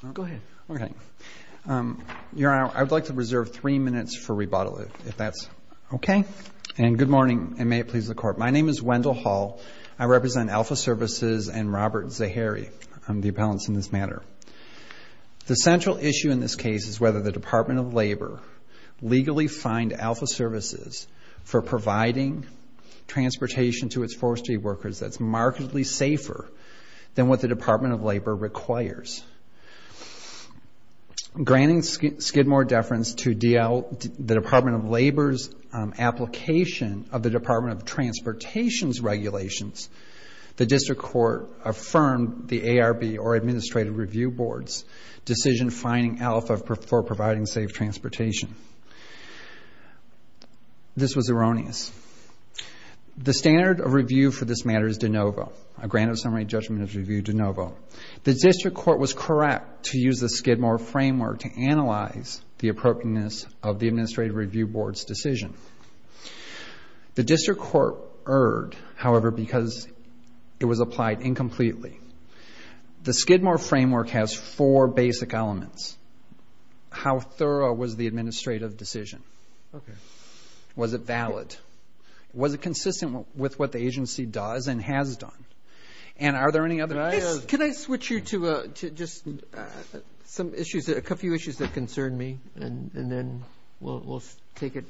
Good morning, and may it please the Court. My name is Wendell Hall. I represent Alpha Services and Robert Zahary. I'm the appellant in this matter. The central issue in this case is whether the Department of Labor legally fined Alpha Services for providing transportation to its forestry workers that's markedly safer than what the Department of Labor requires. Granting Skidmore deference to the Department of Labor's application of the Department of Transportation's regulations, the District Court affirmed the ARB, or Administrative Review Board's, decision fining Alpha for providing safe transportation. This was erroneous. The standard of review for this matter is de novo. A granted summary judgment is reviewed de novo. The District Court was correct to use the Skidmore framework to analyze the appropriateness of the Administrative Review Board's decision. The District Court erred, however, because it was applied incompletely. The Skidmore framework has four basic elements. First, how thorough was the administrative decision? Was it valid? Was it consistent with what the agency does and has done? And are there any other... Can I switch you to just a few issues that concern me, and then we'll take it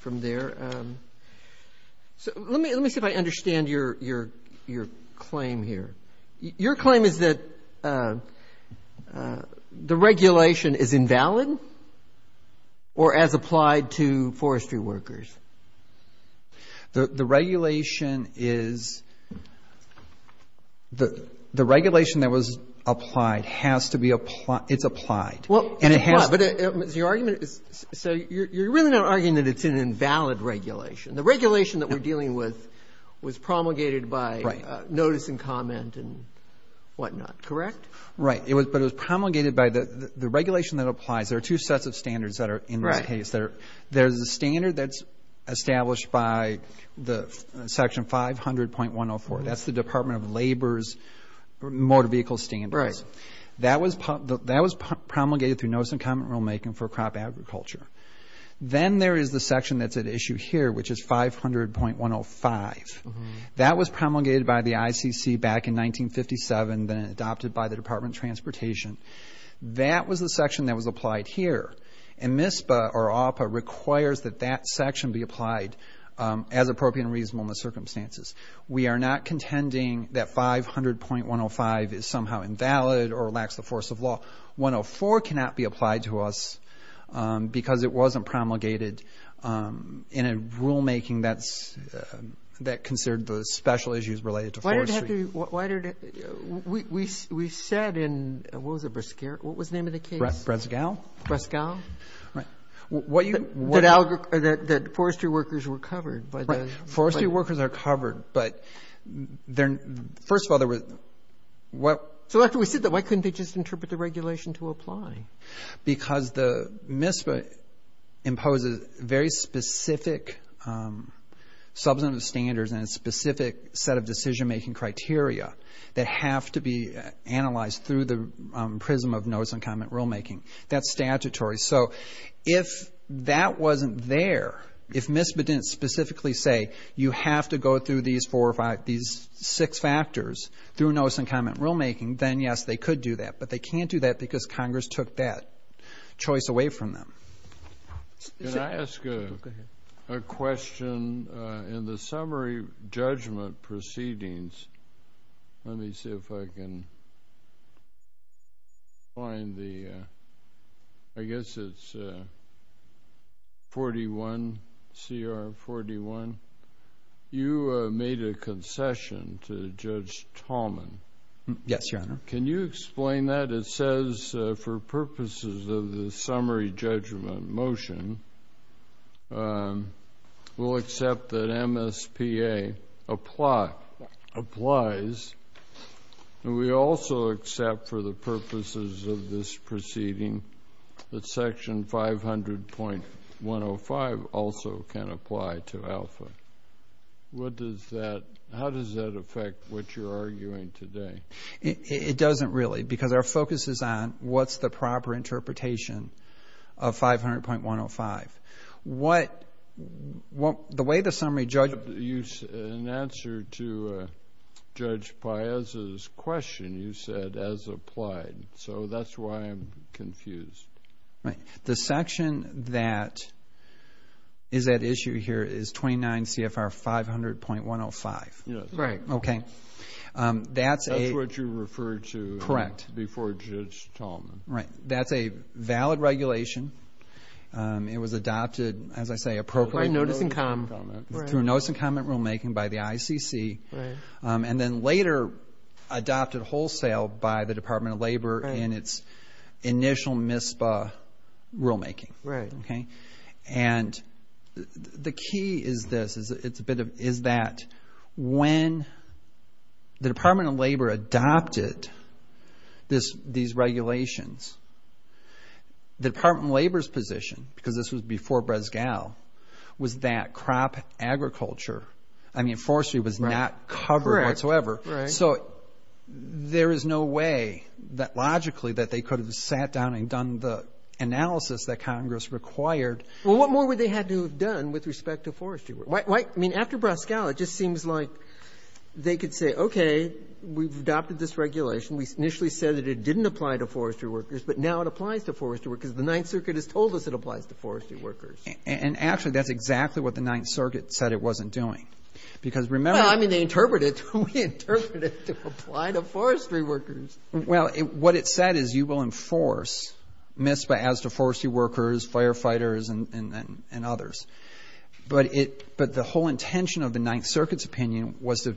from there. So let me see if I understand your claim here. Your claim is that the regulation is invalid or as applied to forestry workers? The regulation is the regulation that was applied has to be applied. It's applied. But your argument is, so you're really not arguing that it's an invalid regulation. The regulation that we're dealing with was promulgated by notice and comment and whatnot. Correct? Right. But it was promulgated by the regulation that applies. There are two sets of standards that are in this case. There's a standard that's established by the section 500.104. That's the Department of Labor's motor vehicle standards. That was promulgated through notice and comment rulemaking for crop agriculture. Then there is the section that's at issue here, which is 500.105. That was promulgated by the ICC back in 1957, then adopted by the Department of Transportation. That was the section that was applied here. And MISPA or AWPA requires that that section be applied as appropriate and reasonable in the circumstances. We are not contending that 500.105 is somehow invalid or lacks the force of law. 104 cannot be applied to us because it wasn't promulgated in a rulemaking that considered the special issues related to forestry. Why did it have to be? We said in, what was the name of the case? Bresgal. Bresgal. That forestry workers were covered by the- Forestry workers are covered, but first of all, there was- So after we said that, why couldn't they just interpret the regulation to apply? Because the MISPA imposes very specific substantive standards and a specific set of decision making criteria that have to be analyzed through the prism of notice and comment rulemaking. That's statutory. So if that wasn't there, if MISPA didn't specifically say you have to go through these four or five, these six factors through notice and comment rulemaking, then yes, they could do that. But they can't do that because Congress took that choice away from them. Can I ask a question in the summary judgment proceedings? Let me see if I can find the, I guess it's 41, CR 41. You made a concession to Judge Tallman. Yes, Your Honor. Can you explain that? It says for purposes of the summary judgment motion, we'll accept that MSPA applies, and we also accept for the purposes of this proceeding that section 500.105 also can apply to ALFA. How does that affect what you're arguing today? It doesn't really because our focus is on what's the proper interpretation of 500.105. The way the summary judgment... You said in answer to Judge Piazza's question, you said as applied. So that's why I'm confused. Right. The section that is at issue here is 29 CFR 500.105. Yes. Right. Okay. That's a... What you referred to before Judge Tallman. Right. That's a valid regulation. It was adopted, as I say, appropriately. By notice and comment. Through notice and comment rulemaking by the ICC. And then later adopted wholesale by the Department of Labor in its initial MSPA rulemaking. Right. And the key is this, is that when the Department of Labor adopted these regulations, the Department of Labor's position, because this was before Brezgal, was that crop agriculture, I mean forestry was not covered whatsoever. So there is no way that logically that they could have sat down and done the Well, what more would they had to have done with respect to forestry? I mean, after Brezgal, it just seems like they could say, okay, we've adopted this regulation. We initially said that it didn't apply to forestry workers, but now it applies to forestry workers. The Ninth Circuit has told us it applies to forestry workers. And actually, that's exactly what the Ninth Circuit said it wasn't doing. Because remember... Well, I mean, they interpret it. We interpret it to apply to forestry workers. Well, what it said is you will enforce MSPA as to forestry workers, firefighters, and others. But the whole intention of the Ninth Circuit's opinion was to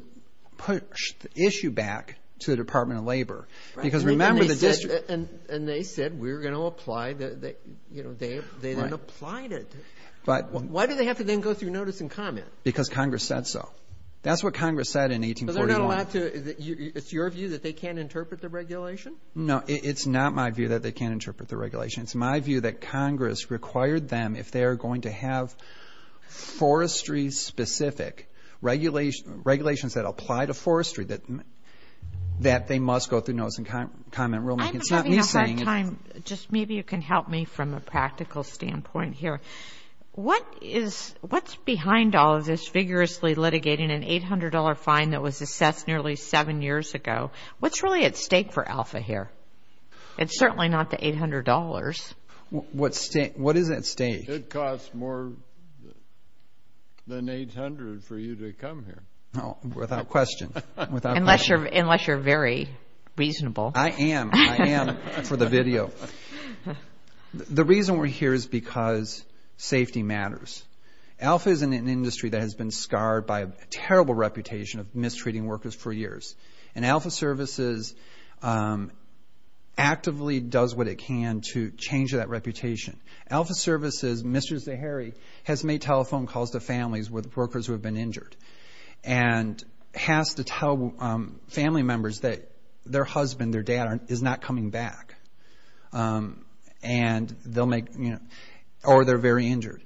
push the issue back to the Department of Labor. Because remember the district... And they said, we're going to apply that, you know, they didn't apply it. Why do they have to then go through notice and comment? Because Congress said so. That's what Congress said in 1841. It's your view that they can't interpret the regulation? No, it's not my view that they can't interpret the regulation. It's my view that Congress required them, if they are going to have forestry-specific regulations that apply to forestry, that they must go through notice and comment rulemaking. I'm having a hard time. Just maybe you can help me from a practical standpoint here. What is behind all of this vigorously litigating an $800 fine that was assessed nearly seven years ago? What's really at stake for ALFA here? It's certainly not the $800. What is at stake? It costs more than $800 for you to come here. Oh, without question. Unless you're very reasonable. I am. I am for the video. The reason we're here is because safety matters. ALFA is an industry that has been scarred by a terrible reputation of mistreating workers for years. And ALFA Services actively does what it can to change that reputation. ALFA Services, Mr. Zaharie, has made telephone calls to families with workers who have been injured and has to tell family members that their husband, their dad, is not coming back. And they'll make, you know, or they're very injured.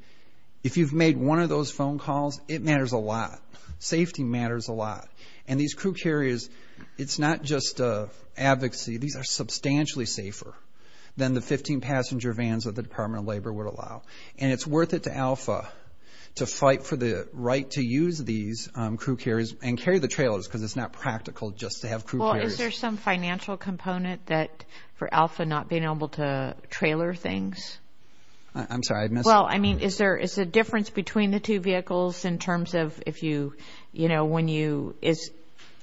If you've made one of those phone calls, it matters a lot. Safety matters a lot. And these crew carriers, it's not just advocacy. These are substantially safer than the 15 passenger vans that the Department of Labor would allow. And it's worth it to ALFA to fight for the right to use these crew carriers and carry the trailers because it's not practical just to have crew carriers. Is there some financial component for ALFA not being able to trailer things? I'm sorry. Well, I mean, is there a difference between the two vehicles in terms of if you, you know, when you, is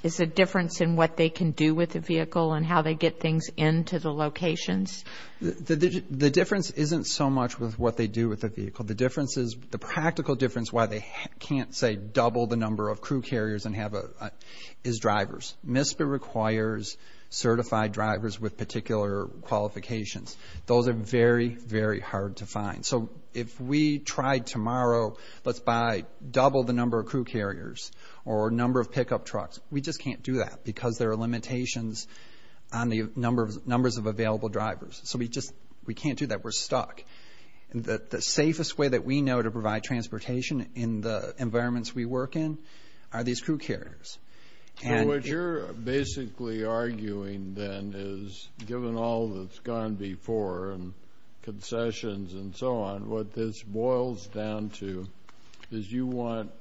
there a difference in what they can do with the vehicle and how they get things into the locations? The difference isn't so much with what they do with the vehicle. The difference is, the practical difference, why they can't say double the number of crew carriers and have, is drivers. MISPA requires certified drivers with particular qualifications. Those are very, very hard to find. So if we tried tomorrow, let's buy double the number of crew carriers or number of pickup trucks. We just can't do that because there are limitations on the number of, numbers of available drivers. So we just, we can't do that. We're stuck. And the safest way that we know to provide transportation in the environments we work in are these crew carriers. And what you're basically arguing then is given all that's gone before and concessions and so on, what this boils down to is you want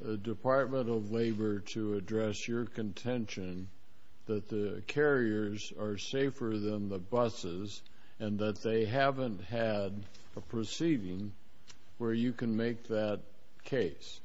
the Department of Labor to address your contention that the carriers are safer than the buses and that they haven't had a proceeding where you can make that case.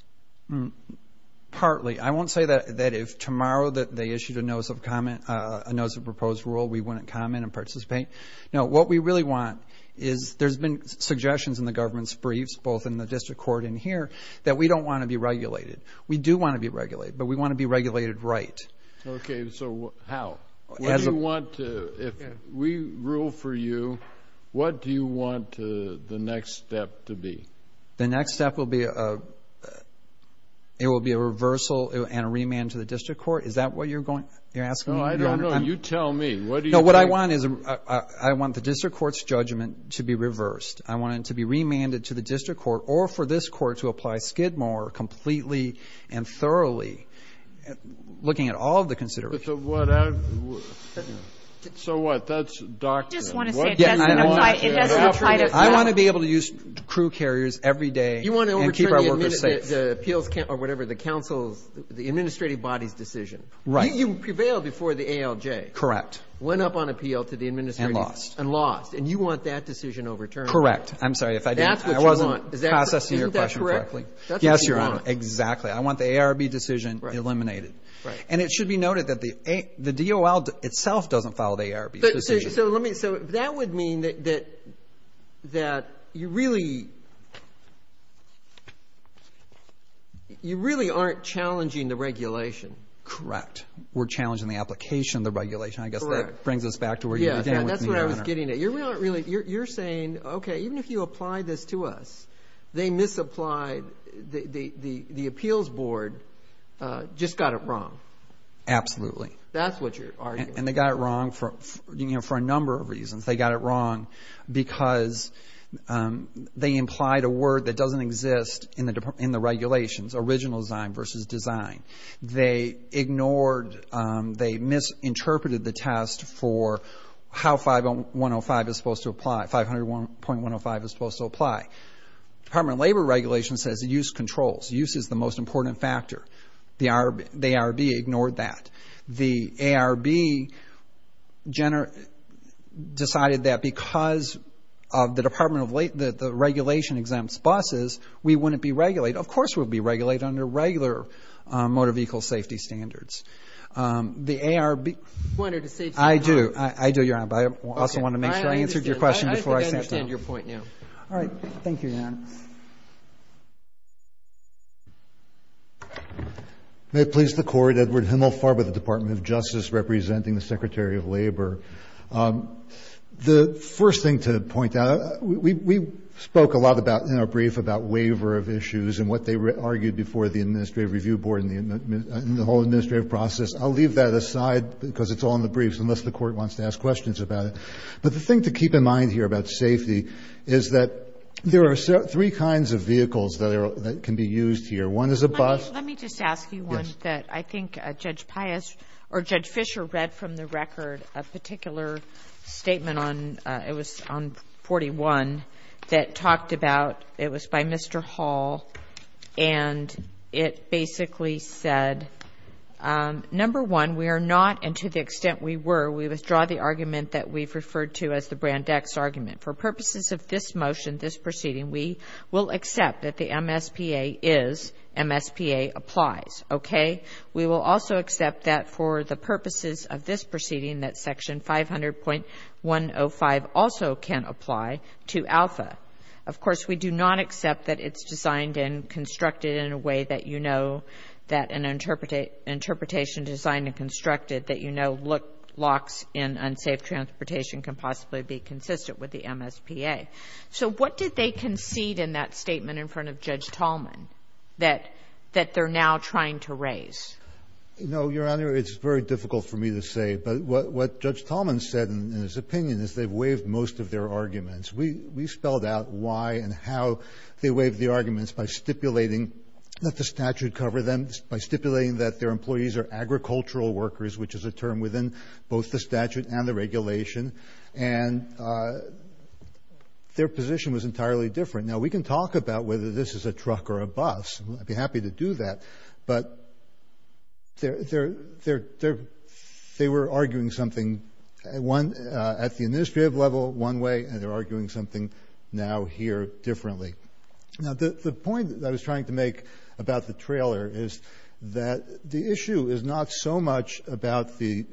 Partly. I won't say that if tomorrow that they issued a notice of comment, a notice of proposed rule, we wouldn't comment and participate. No, what we really want is, there's been suggestions in the government's briefs, both in the district court and here, that we don't want to be regulated. We do want to be regulated, but we want to be regulated right. Okay, so how? If we rule for you, what do you want the next step to be? The next step will be a reversal and a remand to the district court. Is that what you're asking? No, I don't know. You tell me. No, what I want is I want the district court's judgment to be reversed. I want it to be remanded to the district court or for this court to apply Skidmore completely and thoroughly, looking at all of the considerations. But so what? That's a document. I just want to say it doesn't apply. I want to be able to use crew carriers every day and keep our workers safe. You want to overturn the appeals, or whatever, the council's, the administrative body's decision. Right. You prevailed before the ALJ. Correct. Went up on appeal to the administrators. And lost. And lost. And you want that decision overturned. Correct. I'm sorry if I didn't. That's what you want. I wasn't processing your question correctly. Yes, Your Honor. Exactly. I want the ARB decision eliminated. And it should be noted that the DOL itself doesn't follow the ARB's decision. So that would mean that you really aren't challenging the regulation. Correct. We're challenging the application of the regulation. I guess that brings us back to where you began with me, Your Honor. Yes, that's what I was getting at. You're saying, okay, even if you apply this to us, they misapplied, the appeals board just got it wrong. Absolutely. That's what you're arguing. They got it wrong for a number of reasons. They got it wrong because they implied a word that doesn't exist in the regulations. Original design versus design. They ignored, they misinterpreted the test for how 501.105 is supposed to apply. 501.105 is supposed to apply. Department of Labor regulations says use controls. Use is the most important factor. The ARB ignored that. The ARB decided that because of the Department of Labor, the regulation exempts buses, we wouldn't be regulated. Of course, we'll be regulated under regular motor vehicle safety standards. The ARB... You wanted to save some time. I do. I do, Your Honor. But I also want to make sure I answered your question before I sat down. I understand your point now. All right. Thank you, Your Honor. May it please the Court, Edward Himmelfarb of the Department of Justice, representing the Secretary of Labor. The first thing to point out, we spoke a lot about, in our brief, about waiver of issues and what they argued before the Administrative Review Board and the whole administrative process. I'll leave that aside because it's all in the briefs, unless the Court wants to ask questions about it. But the thing to keep in mind here about safety is that there are, three kinds of vehicles that can be used here. One is a bus. Let me just ask you one that I think Judge Pius or Judge Fischer read from the record, a particular statement on, it was on 41, that talked about, it was by Mr. Hall, and it basically said, number one, we are not, and to the extent we were, we withdraw the argument that we've referred to as the Brand X argument. For purposes of this motion, this proceeding, we will accept that the MSPA is, MSPA applies. Okay? We will also accept that for the purposes of this proceeding, that section 500.105 also can apply to Alpha. Of course, we do not accept that it's designed and constructed in a way that you know, that an interpretation designed and constructed that you know, locks in unsafe transportation can possibly be consistent with the MSPA. So what did they concede in that statement in front of Judge Tallman that they're now trying to raise? No, Your Honor, it's very difficult for me to say. But what Judge Tallman said in his opinion is they've waived most of their arguments. We spelled out why and how they waived the arguments by stipulating that the statute cover them, by stipulating that their employees are agricultural workers, which is a term within both the statute and the regulation. And their position was entirely different. Now, we can talk about whether this is a truck or a bus. I'd be happy to do that. But they were arguing something at the administrative level one way, and they're arguing something now here differently. Now, the point that I was trying to make about the trailer is that the issue is not so much about the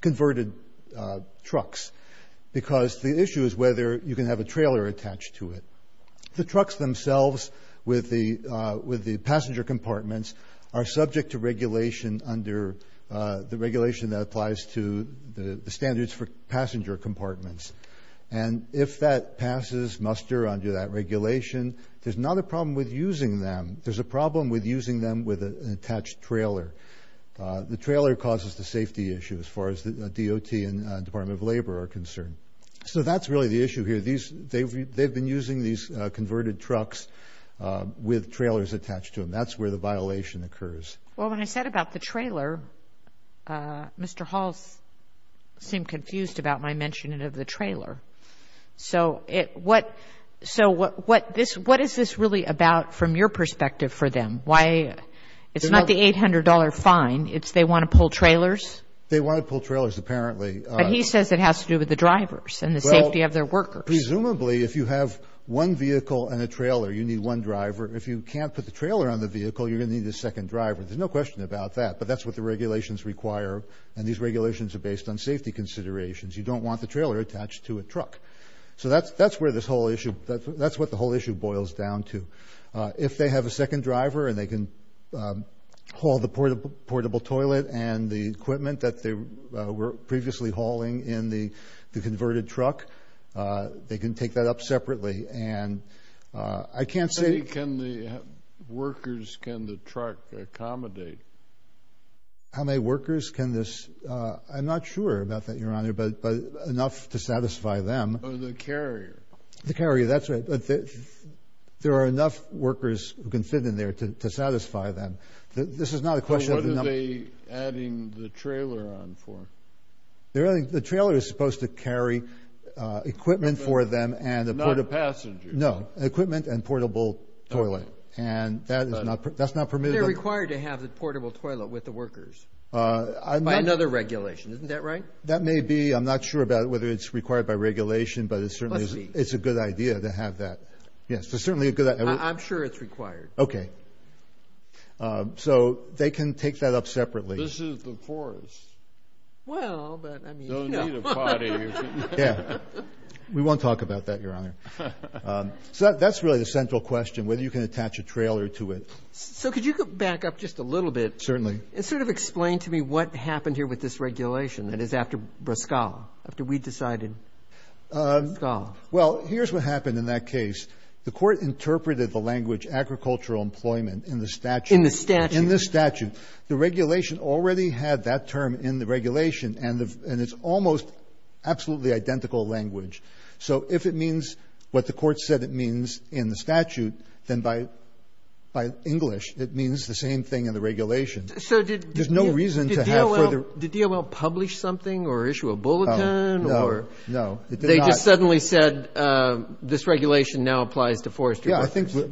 converted trucks, because the issue is whether you can have a trailer attached to it. The trucks themselves with the passenger compartments are subject to regulation under the regulation that applies to the standards for passenger compartments. And if that passes muster under that regulation, there's not a problem with using them. There's a problem with using them with an attached trailer. The trailer causes the safety issue as far as the DOT and Department of Labor are concerned. So that's really the issue here. They've been using these converted trucks with trailers attached to them. That's where the violation occurs. Well, when I said about the trailer, Mr. Hall seemed confused about my mentioning of the trailer. So what is this really about from your perspective for them? It's not the $800 fine. It's they want to pull trailers. They want to pull trailers, apparently. But he says it has to do with the drivers and the safety of their workers. Presumably, if you have one vehicle and a trailer, you need one driver. If you can't put the trailer on the vehicle, you're going to need a second driver. There's no question about that. But that's what the regulations require. And these regulations are based on safety considerations. You don't want the trailer attached to a truck. So that's where this whole issue—that's what the whole issue boils down to. If they have a second driver and they can haul the portable toilet and the equipment that they were previously hauling in the converted truck, they can take that up separately. And I can't say— How many workers can the truck accommodate? How many workers can this—I'm not sure about that, Your Honor. But enough to satisfy them. Or the carrier. The carrier, that's right. There are enough workers who can fit in there to satisfy them. This is not a question of— So what are they adding the trailer on for? The trailer is supposed to carry equipment for them and— Not passengers. No. Equipment and portable toilet. And that's not permitted. They're required to have the portable toilet with the workers by another regulation. Isn't that right? That may be. I'm not sure about whether it's required by regulation, but it's a good idea to have that. Yes, it's certainly a good idea. I'm sure it's required. Okay. So they can take that up separately. This is the forest. Well, but I mean— No need to potty. Yeah. We won't talk about that, Your Honor. So that's really the central question, whether you can attach a trailer to it. So could you go back up just a little bit— Certainly. And sort of explain to me what happened here with this regulation that is after Briscoe, after we decided Briscoe. Well, here's what happened in that case. The Court interpreted the language agricultural employment in the statute. In the statute. In the statute. The regulation already had that term in the regulation, and it's almost absolutely identical language. So if it means what the Court said it means in the statute, then by English, it means the same thing in the regulation. There's no reason to have further— Did DOL publish something or issue a bulletin or— No, no, it did not. They just suddenly said this regulation now applies to forestry workers. Yeah, I think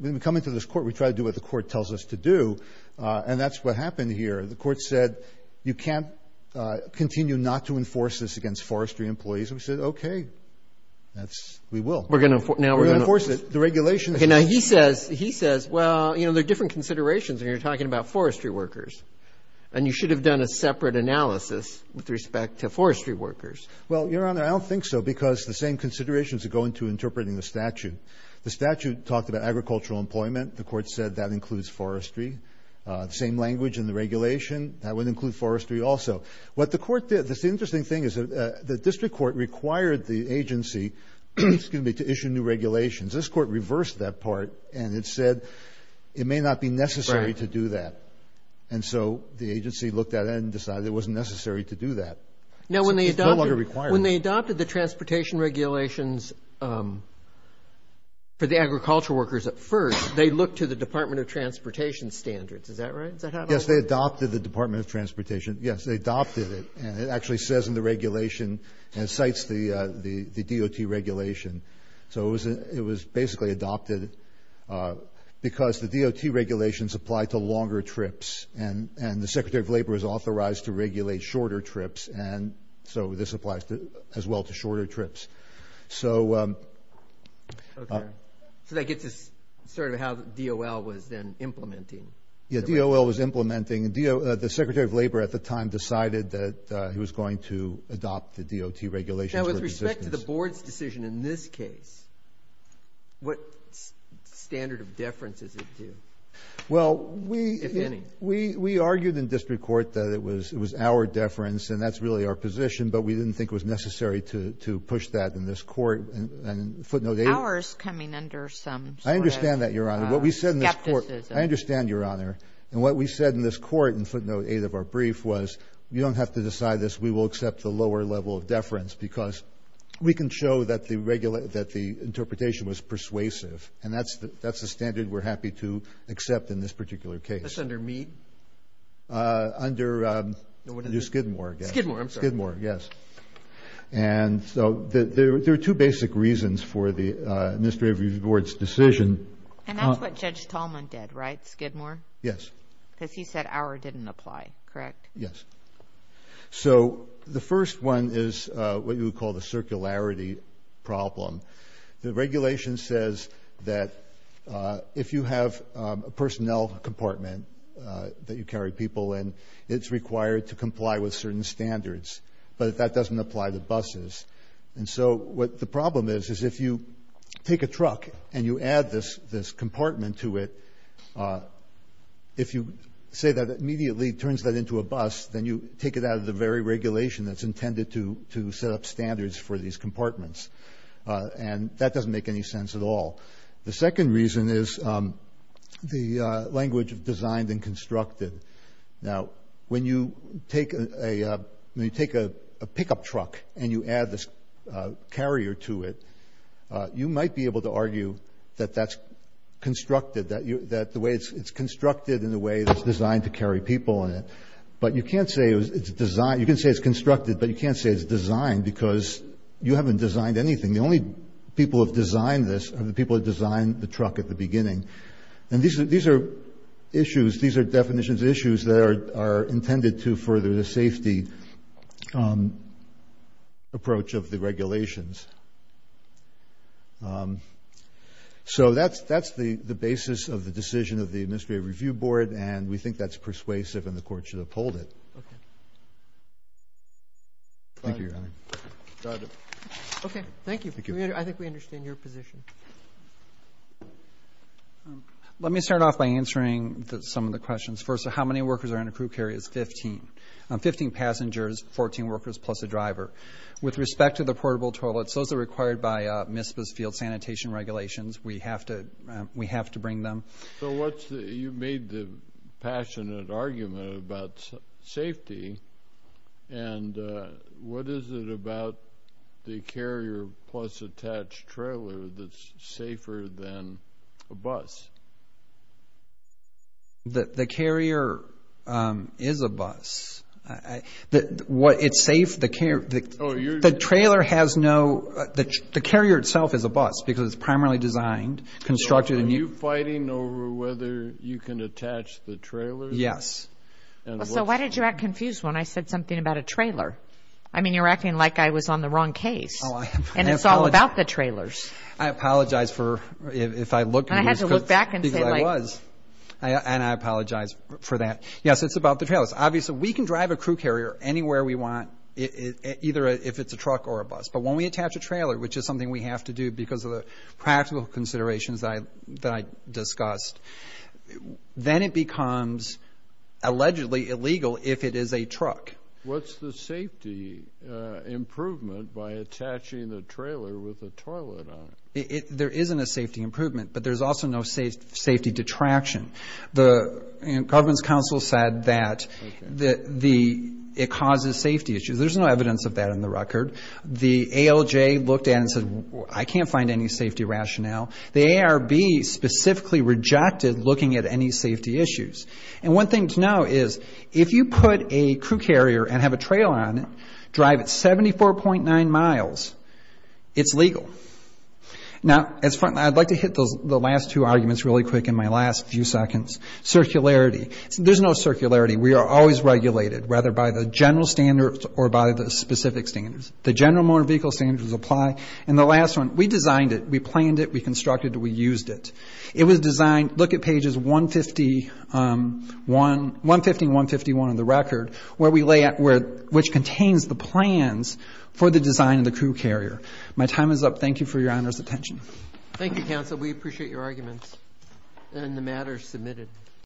when we come into this Court, we try to do what the Court tells us to do, and that's what happened here. The Court said you can't continue not to enforce this against forestry employees. We said, okay, we will. We're going to enforce it. The regulation— Okay, now he says, well, you know, there are different considerations when you're talking about forestry workers, and you should have done a separate analysis with respect to forestry workers. Well, Your Honor, I don't think so, because the same considerations go into interpreting the statute. The statute talked about agricultural employment. The Court said that includes forestry. The same language in the regulation. That would include forestry also. What the Court did—the interesting thing is the district court required the agency to issue new regulations. This Court reversed that part, and it said it may not be necessary to do that. And so the agency looked at it and decided it wasn't necessary to do that. Now, when they adopted the transportation regulations for the agricultural workers at first, they looked to the Department of Transportation standards. Is that right? Yes, they adopted the Department of Transportation. Yes, they adopted it. And it actually says in the regulation, and it cites the DOT regulation. So it was basically adopted because the DOT regulations apply to longer trips, and the Secretary of Labor is authorized to regulate shorter trips, and so this applies as well to shorter trips. So that gets us sort of how DOL was then implementing. Yeah, DOL was implementing—the Secretary of Labor at the time decided that he was going to adopt the DOT regulations. Now, with respect to the Board's decision in this case, what standard of deference is it due, if any? Well, we argued in district court that it was our deference, and that's really our position, but we didn't think it was necessary to push that in this Court. And footnote 8— Ours coming under some sort of skepticism. I understand that, Your Honor. What we said in this Court—I understand, Your Honor. And what we said in this Court in footnote 8 of our brief was you don't have to decide this. We will accept the lower level of deference because we can show that the interpretation was persuasive, and that's the standard we're happy to accept in this particular case. That's under Mead? Under Skidmore, I guess. Skidmore, I'm sorry. Skidmore, yes. And so there are two basic reasons for the Administrative Review Board's decision. And that's what Judge Tallman did, right? Skidmore? Yes. Because he said our didn't apply, correct? Yes. So the first one is what you would call the circularity problem. The regulation says that if you have a personnel compartment that you carry people in, it's required to comply with certain standards. But that doesn't apply to buses. And so what the problem is, is if you take a truck and you add this compartment to it, if you say that immediately turns that into a bus, then you take it out of the very regulation that's intended to set up standards for these compartments. And that doesn't make any sense at all. The second reason is the language of designed and constructed. Now, when you take a pickup truck and you add this carrier to it, you might be able to argue that that's constructed, that the way it's constructed in a way that's designed to carry people in it. But you can't say it's designed, you can say it's constructed, but you can't say it's designed because you haven't designed anything. The only people who have designed this are the people who designed the truck at the beginning. And these are issues, these are definitions of issues that are intended to further the safety approach of the regulations. So that's the basis of the decision of the Administrative Review Board, and we think that's persuasive and the Court should uphold it. Thank you, Your Honor. Okay. Thank you. I think we understand your position. Let me start off by answering some of the questions. First, how many workers are in a crew carrier? It's 15. Fifteen passengers, 14 workers, plus a driver. With respect to the portable toilets, those are required by MISPA's Field Sanitation Regulations. We have to bring them. So you've made the passionate argument about safety, and what is it about the carrier plus attached trailer that's safer than a bus? The carrier is a bus. It's safe. The carrier itself is a bus, because it's primarily designed, constructed. Are you fighting over whether you can attach the trailer? Yes. So why did you get confused when I said something about a trailer? I mean, you're acting like I was on the wrong case, and it's all about the trailers. I apologize for, if I look at you. I had to look back and say, like... And I apologize for that. Yes, it's about the trailers. Obviously, we can drive a crew carrier anywhere we want, either if it's a truck or a bus. But when we attach a trailer, which is something we have to do because of the practical considerations that I discussed, then it becomes allegedly illegal if it is a truck. What's the safety improvement by attaching the trailer with a toilet on it? There isn't a safety improvement, but there's also no safety detraction. The Governance Council said that it causes safety issues. There's no evidence of that in the record. The ALJ looked at it and said, I can't find any safety rationale. The ARB specifically rejected looking at any safety issues. And one thing to know is, if you put a crew carrier and have a trailer on it, drive it 74.9 miles, it's legal. Now, I'd like to hit the last two arguments really quick in my last few seconds. Circularity. There's no circularity. We are always regulated, whether by the general standards or by the specific standards. The general motor vehicle standards apply. And the last one, we designed it, we planned it, we constructed it, we used it. It was designed, look at pages 150 and 151 of the record, which contains the plans for the design of the crew carrier. My time is up. Thank you for your honor's attention. Thank you, counsel. We appreciate your arguments and the matters submitted.